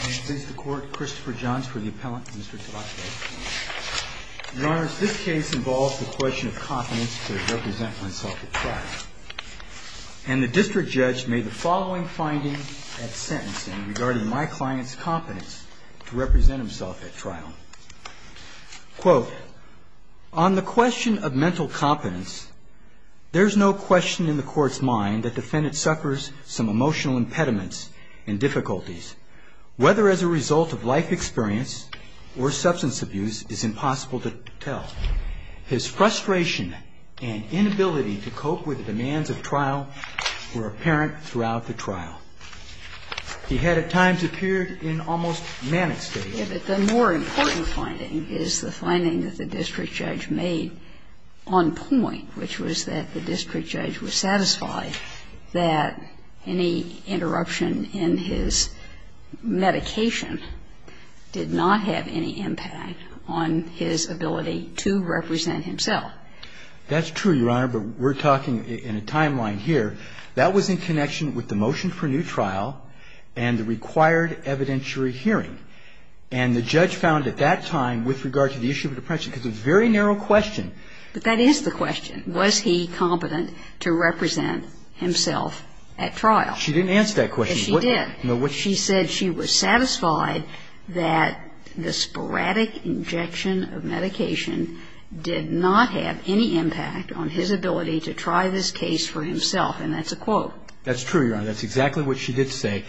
May it please the court, Christopher Johns for the appellant, Mr. Tabatabai. Your Honor, this case involves the question of confidence to represent oneself at trial. And the district judge made the following finding at sentencing regarding my client's confidence to represent himself at trial. Quote, on the question of mental competence, there's no question in the court's mind that the defendant suffers some emotional impediments and difficulties. Whether as a result of life experience or substance abuse is impossible to tell. His frustration and inability to cope with the demands of trial were apparent throughout the trial. He had at times appeared in almost manic state. The more important finding is the finding that the district judge made on point, which was that the district judge was satisfied that any interruption in his medication did not have any impact on his ability to represent himself. That's true, Your Honor, but we're talking in a timeline here. That was in connection with the motion for new trial and the required evidentiary hearing. And the judge found at that time with regard to the issue of depression, because it's a very narrow question. But that is the question. Was he competent to represent himself at trial? She didn't answer that question. Yes, she did. She said she was satisfied that the sporadic injection of medication did not have any impact on his ability to try this case for himself. And that's a quote. That's true, Your Honor. That's exactly what she did say.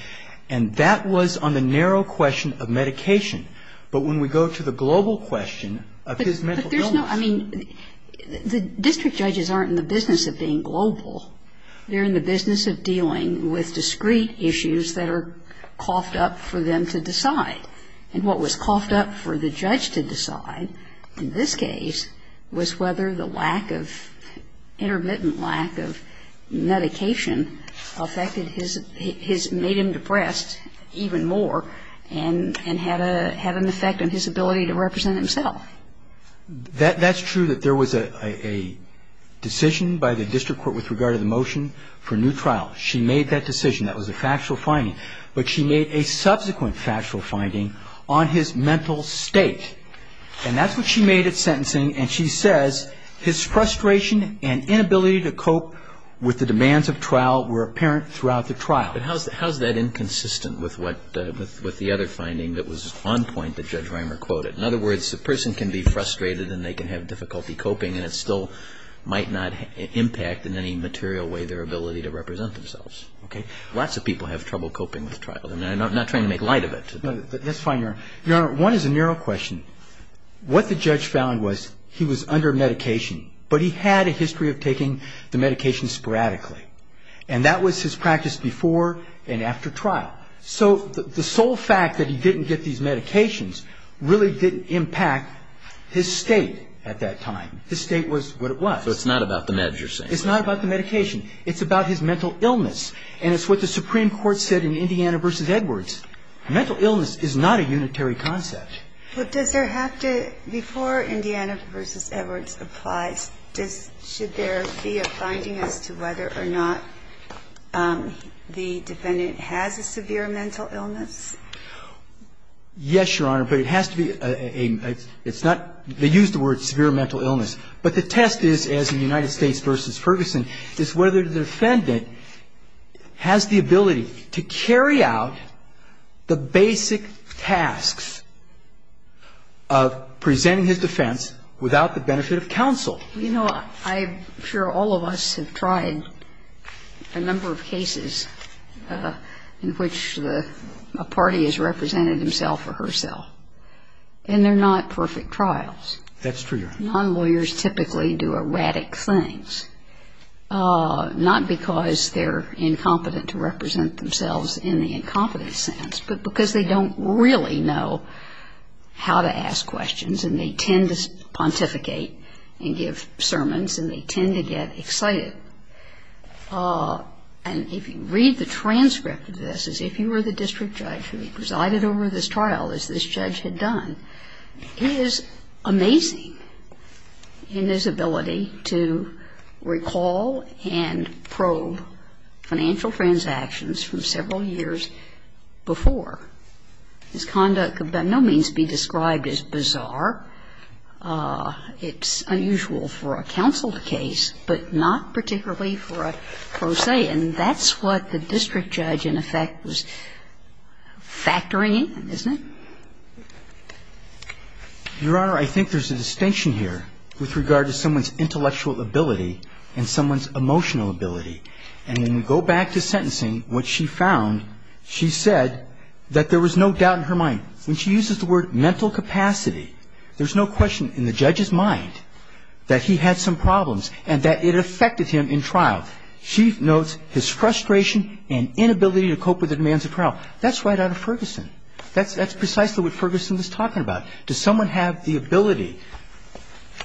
And that was on the narrow question of medication. But when we go to the global question of his mental illness. But there's no, I mean, the district judges aren't in the business of being global. They're in the business of dealing with discrete issues that are coughed up for them to decide. And what was coughed up for the judge to decide in this case was whether the lack of, intermittent lack of medication affected his, made him depressed even more and had an effect on his ability to represent himself. That's true that there was a decision by the district court with regard to the motion for new trial. She made that decision. That was a factual finding. But she made a subsequent factual finding on his mental state. And that's what she made at sentencing. And she says his frustration and inability to cope with the demands of trial were apparent throughout the trial. But how is that inconsistent with what the other finding that was on point that Judge Reimer quoted? In other words, a person can be frustrated and they can have difficulty coping, and it still might not impact in any material way their ability to represent themselves. Okay? Lots of people have trouble coping with trial. I'm not trying to make light of it. That's fine, Your Honor. Your Honor, one is a narrow question. What the judge found was he was under medication, but he had a history of taking the medication sporadically. And that was his practice before and after trial. So the sole fact that he didn't get these medications really didn't impact his state at that time. His state was what it was. So it's not about the meds you're saying? It's not about the medication. It's about his mental illness. And it's what the Supreme Court said in Indiana v. Edwards. Mental illness is not a unitary concept. But does there have to be, before Indiana v. Edwards applies, should there be a finding as to whether or not the defendant has a severe mental illness? Yes, Your Honor, but it has to be a – it's not – they use the word severe mental illness. But the test is, as in United States v. Ferguson, is whether the defendant has the ability to carry out the basic tasks of presenting his defense without the benefit of counsel. You know, I'm sure all of us have tried a number of cases in which a party has represented himself or herself. And they're not perfect trials. That's true, Your Honor. Non-lawyers typically do erratic things, not because they're incompetent to represent themselves in the incompetent sense, but because they don't really know how to ask questions and they tend to pontificate and give sermons and they tend to get excited. And if you read the transcript of this, as if you were the district judge who presided over this trial, as this judge had done, is amazing in his ability to recall and probe financial transactions from several years before. His conduct could by no means be described as bizarre. It's unusual for a counsel case, but not particularly for a pro se. And that's what the district judge, in effect, was factoring in, isn't it? Your Honor, I think there's a distinction here with regard to someone's intellectual ability and someone's emotional ability. And when we go back to sentencing, what she found, she said that there was no doubt in her mind. When she uses the word mental capacity, there's no question in the judge's mind that he had some problems and that it affected him in trial. She notes his frustration and inability to cope with the demands of trial. That's right out of Ferguson. That's precisely what Ferguson is talking about. Does someone have the ability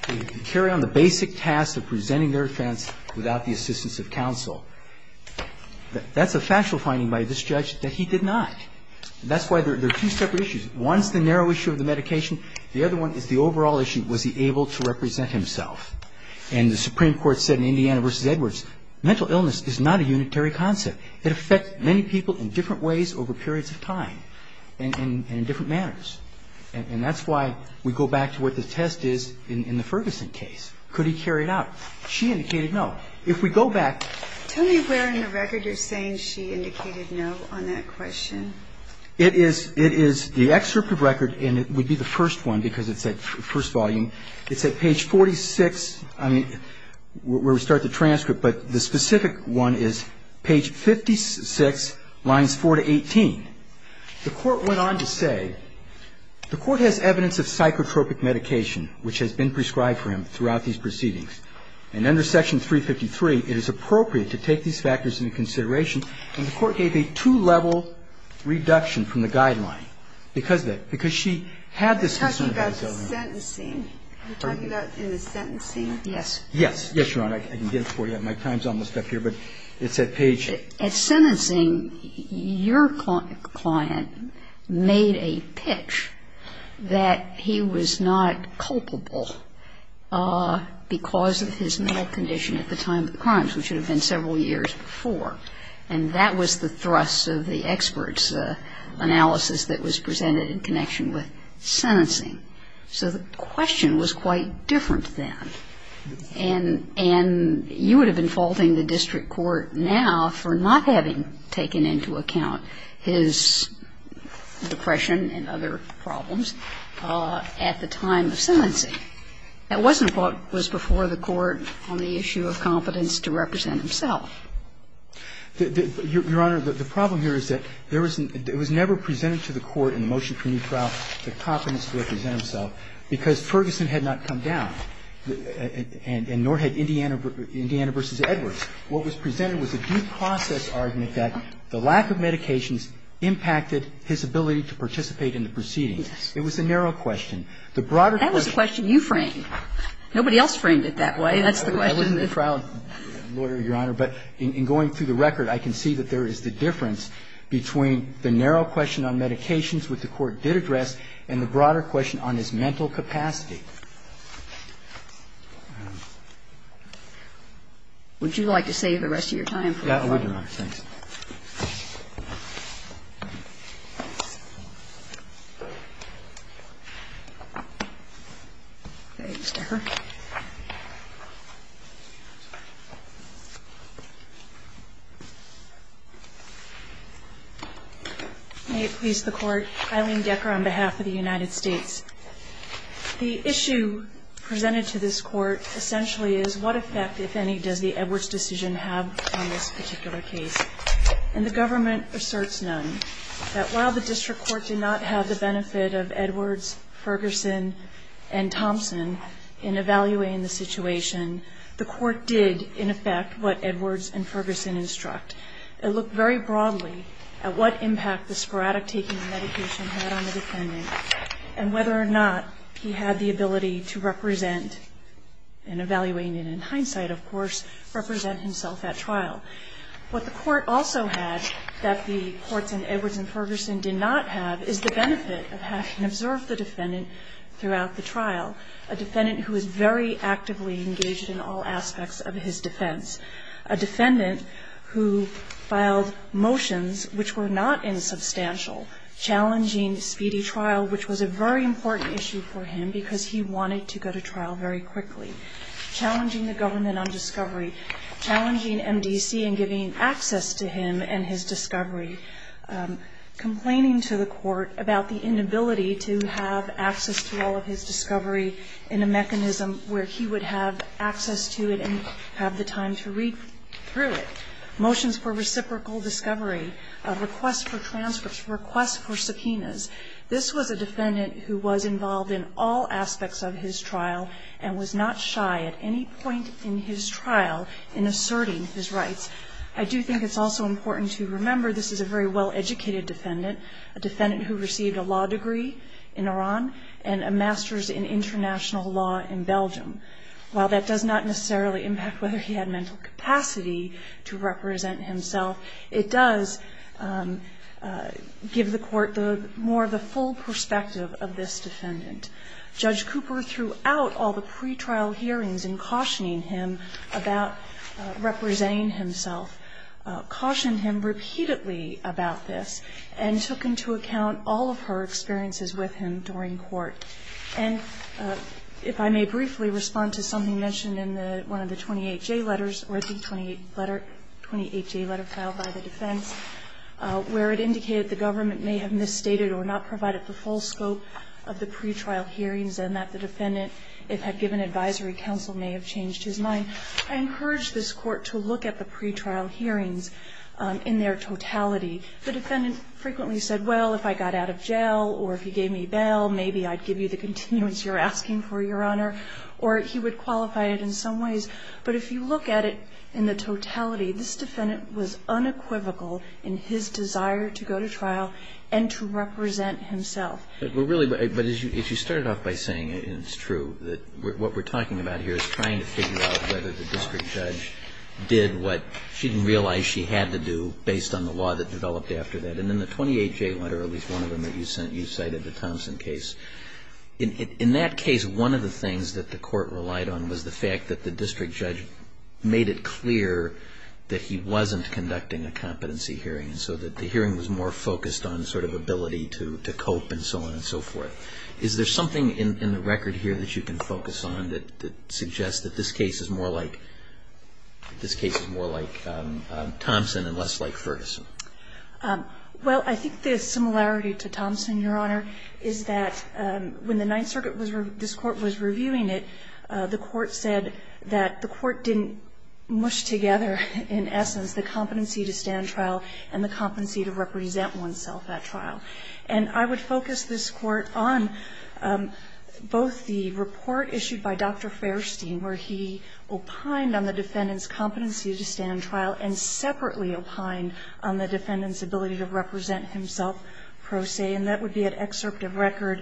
to carry on the basic tasks of presenting their defense without the assistance of counsel? That's a factual finding by this judge that he did not. That's why there are two separate issues. One is the narrow issue of the medication. The other one is the overall issue, was he able to represent himself? And the Supreme Court said in Indiana v. Edwards, mental illness is not a unitary concept. It affects many people in different ways over periods of time. And in different manners. And that's why we go back to what the test is in the Ferguson case. Could he carry it out? She indicated no. If we go back. Tell me where in the record you're saying she indicated no on that question. It is the excerpt of record, and it would be the first one because it's at first volume. It's at page 46, I mean, where we start the transcript. But the specific one is page 56, lines 4 to 18. The Court went on to say, The Court has evidence of psychotropic medication which has been prescribed for him throughout these proceedings. And under section 353, it is appropriate to take these factors into consideration. And the Court gave a two-level reduction from the guideline because of it, because she had this concern about his illness. Are you talking about the sentencing? Yes. Yes, Your Honor. I can get it for you. My time's almost up here. But it's at page. At sentencing, your client made a pitch that he was not culpable because of his mental condition at the time of the crimes, which would have been several years before. And that was the thrust of the expert's analysis that was presented in connection with sentencing. So the question was quite different then. And you would have been faulting the district court now for not having taken into account his depression and other problems at the time of sentencing. That wasn't what was before the Court on the issue of competence to represent himself. Your Honor, the problem here is that there was never presented to the Court in the case of Norhead, Indiana v. Edwards. What was presented was a due process argument that the lack of medications impacted his ability to participate in the proceedings. Yes. It was a narrow question. The broader question. That was a question you framed. Nobody else framed it that way. That's the question. I wasn't a proud lawyer, Your Honor. But in going through the record, I can see that there is the difference between the narrow question on medications, which the Court did address, and the broader question on his mental capacity. Would you like to save the rest of your time? Yeah, I would, Your Honor. Thanks. Ms. Decker. May it please the Court, Eileen Decker on behalf of the United States. The issue presented to this Court essentially is what effect, if any, does the Edwards decision have on this particular case? And the government asserts none. That while the district court did not have the benefit of Edwards, Ferguson, and Thompson in evaluating the situation, the Court did, in effect, what Edwards and Ferguson instruct. It looked very broadly at what impact the sporadic taking of medication had on the defendant, whether or not he had the ability to represent, and evaluating it in hindsight, of course, represent himself at trial. What the Court also had that the courts in Edwards and Ferguson did not have is the benefit of having observed the defendant throughout the trial, a defendant who was very actively engaged in all aspects of his defense. A defendant who filed motions which were not insubstantial, challenging speedy trial, which was a very important issue for him because he wanted to go to trial very quickly, challenging the government on discovery, challenging MDC and giving access to him and his discovery, complaining to the Court about the inability to have access to all of his discovery in a mechanism where he would have access to it and have the time to read through it, motions for reciprocal discovery, requests for transcripts, requests for subpoenas. This was a defendant who was involved in all aspects of his trial and was not shy at any point in his trial in asserting his rights. I do think it's also important to remember this is a very well-educated defendant, a defendant who received a law degree in Iran and a master's in international law in Belgium. While that does not necessarily impact whether he had mental capacity to represent himself, it does give the Court more of the full perspective of this defendant. Judge Cooper, throughout all the pretrial hearings in cautioning him about representing himself, cautioned him repeatedly about this and took into account all of her experiences with him during court. And if I may briefly respond to something mentioned in one of the 28J letters, or a D28 letter, 28J letter filed by the defense, where it indicated the government may have misstated or not provided the full scope of the pretrial hearings and that the defendant, if had given advisory counsel, may have changed his mind, I encourage this Court to look at the pretrial hearings in their totality. The defendant frequently said, well, if I got out of jail or if you gave me bail, maybe I'd give you the continuance you're asking for, Your Honor, or he would qualify it in some ways. But if you look at it in the totality, this defendant was unequivocal in his desire to go to trial and to represent himself. But really, but as you started off by saying, and it's true, that what we're talking about here is trying to figure out whether the district judge did what she didn't realize she had to do based on the law that developed after that. And in the 28J letter, at least one of them that you cited, the Thompson case, in that case, one of the things that the Court relied on was the fact that the district judge made it clear that he wasn't conducting a competency hearing, so that the hearing was more focused on sort of ability to cope and so on and so forth. Is there something in the record here that you can focus on that suggests that this case is more like, this case is more like Thompson and less like Ferguson? Well, I think the similarity to Thompson, Your Honor, is that when the Ninth Circuit was, this Court was reviewing it, the Court said that the Court didn't mush together, in essence, the competency to stand trial and the competency to represent oneself at trial. And I would focus this Court on both the report issued by Dr. Ferguson, where he opined on the defendant's competency to stand trial and separately opined on the defendant's ability to represent himself pro se, and that would be an excerpt of record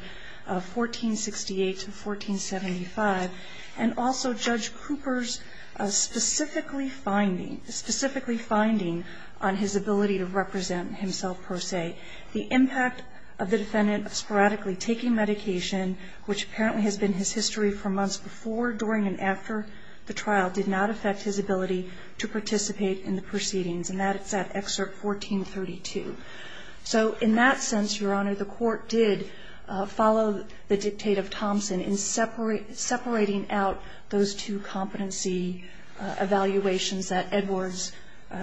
of 1468 to 1475, and also Judge Cooper's specifically finding, specifically finding on his ability to represent himself pro se. The impact of the defendant sporadically taking medication, which apparently has been his history for months before, during, and after the trial, did not affect his ability to participate in the proceedings, and that is at excerpt 1432. So in that sense, Your Honor, the Court did follow the dictate of Thompson in separating out those two competency evaluations that Edwards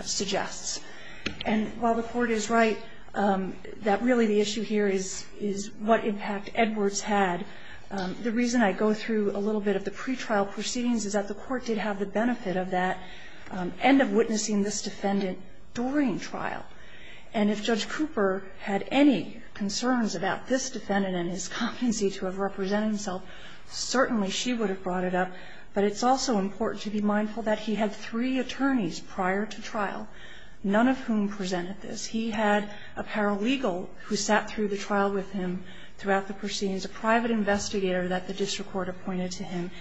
suggests. And while the Court is right that really the issue here is what impact Edwards had, the reason I go through a little bit of the pretrial proceedings is that the Court did have the benefit of that end of witnessing this defendant during trial. And if Judge Cooper had any concerns about this defendant and his competency to have represented himself, certainly she would have brought it up. But it's also important to be mindful that he had three attorneys prior to trial, none of whom presented this. He had a paralegal who sat through the trial with him throughout the proceedings, a private investigator that the district court appointed to him,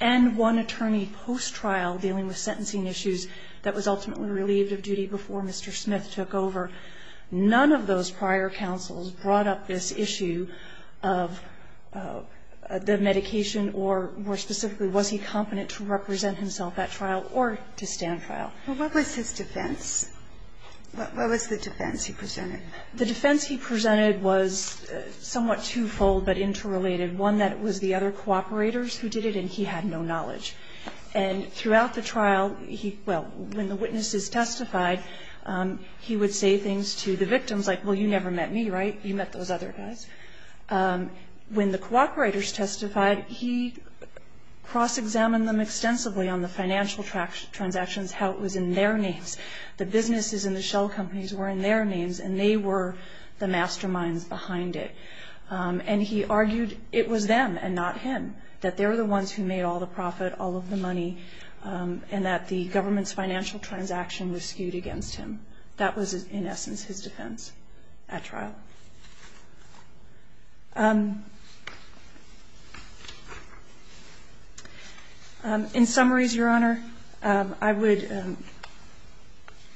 and one attorney post-trial dealing with sentencing issues that was ultimately relieved of duty before Mr. Smith took over. None of those prior counsels brought up this issue of the medication or, more specifically, was he competent to represent himself at trial or to stand trial. But what was his defense? What was the defense he presented? The defense he presented was somewhat twofold, but interrelated. One, that it was the other cooperators who did it, and he had no knowledge. And throughout the trial, he – well, when the witnesses testified, he would say things to the victims, like, well, you never met me, right? You met those other guys. When the cooperators testified, he cross-examined them extensively on the financial transactions, how it was in their names. The businesses and the shell companies were in their names, and they were the masterminds behind it. And he argued it was them and not him, that they were the ones who made all the profit, all of the money, and that the government's financial transaction was skewed against him. That was, in essence, his defense at trial. In summaries, Your Honor, I would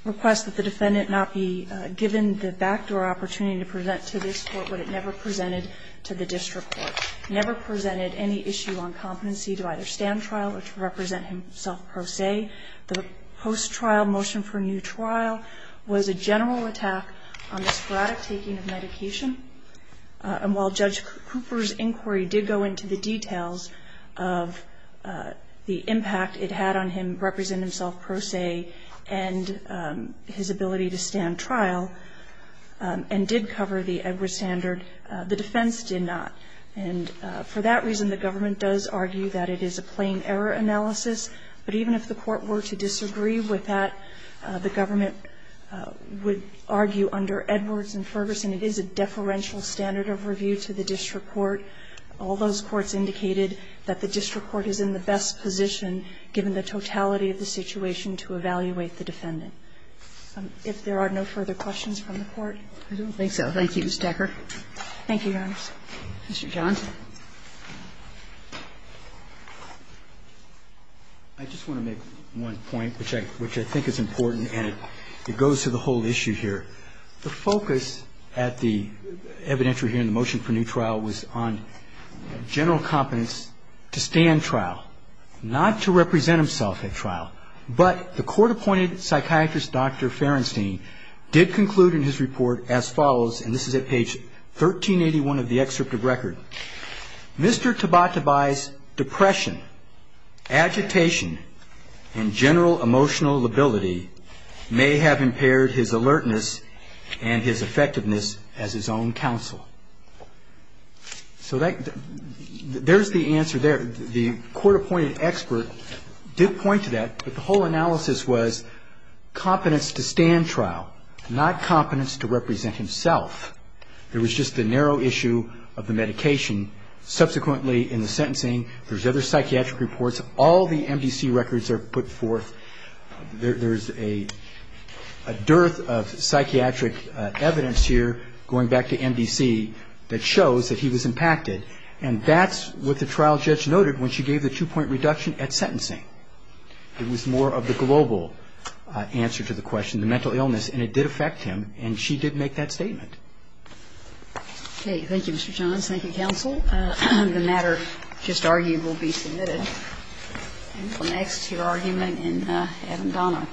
request that the defendant not be given the backdoor opportunity to present to this Court what it never presented to the district court, never presented any issue on competency to either stand trial or to represent himself per se. The post-trial motion for new trial was a general attack on the sporadic taking of medication. And while Judge Cooper's inquiry did go into the details of the impact it had on him representing himself per se and his ability to stand trial and did cover the Edwards standard, the defense did not. And for that reason, the government does argue that it is a plain error analysis. But even if the Court were to disagree with that, the government would argue under Edwards and Ferguson, it is a deferential standard of review to the district court. All those courts indicated that the district court is in the best position, given the totality of the situation, to evaluate the defendant. If there are no further questions from the Court. Kagan, I don't think so. Thank you, Ms. Decker. Thank you, Your Honor. Mr. John. I just want to make one point, which I think is important, and it goes to the whole issue here. The focus at the evidentiary hearing, the motion for new trial, was on general competence to stand trial, not to represent himself at trial. But the court-appointed psychiatrist, Dr. Ferenstein, did conclude in his report as follows, and this is at page 1381 of the excerpt of record, Mr. Tabatabai's depression, agitation, and general emotional lability may have impaired his alertness and his effectiveness as his own counsel. So there's the answer there. The court-appointed expert did point to that, but the whole analysis was competence to stand trial, not competence to represent himself. There was just the narrow issue of the medication. Subsequently, in the sentencing, there's other psychiatric reports. All the MDC records are put forth. There's a dearth of psychiatric evidence here, going back to MDC, that shows that he was impacted. And that's what the trial judge noted when she gave the two-point reduction at sentencing. It was more of the global answer to the question, the mental illness, and it did affect him, and she did make that statement. Okay. Thank you, Mr. Johns. Thank you, counsel. The matter just argued will be submitted. Thank you. And next, your argument in Adam Dono.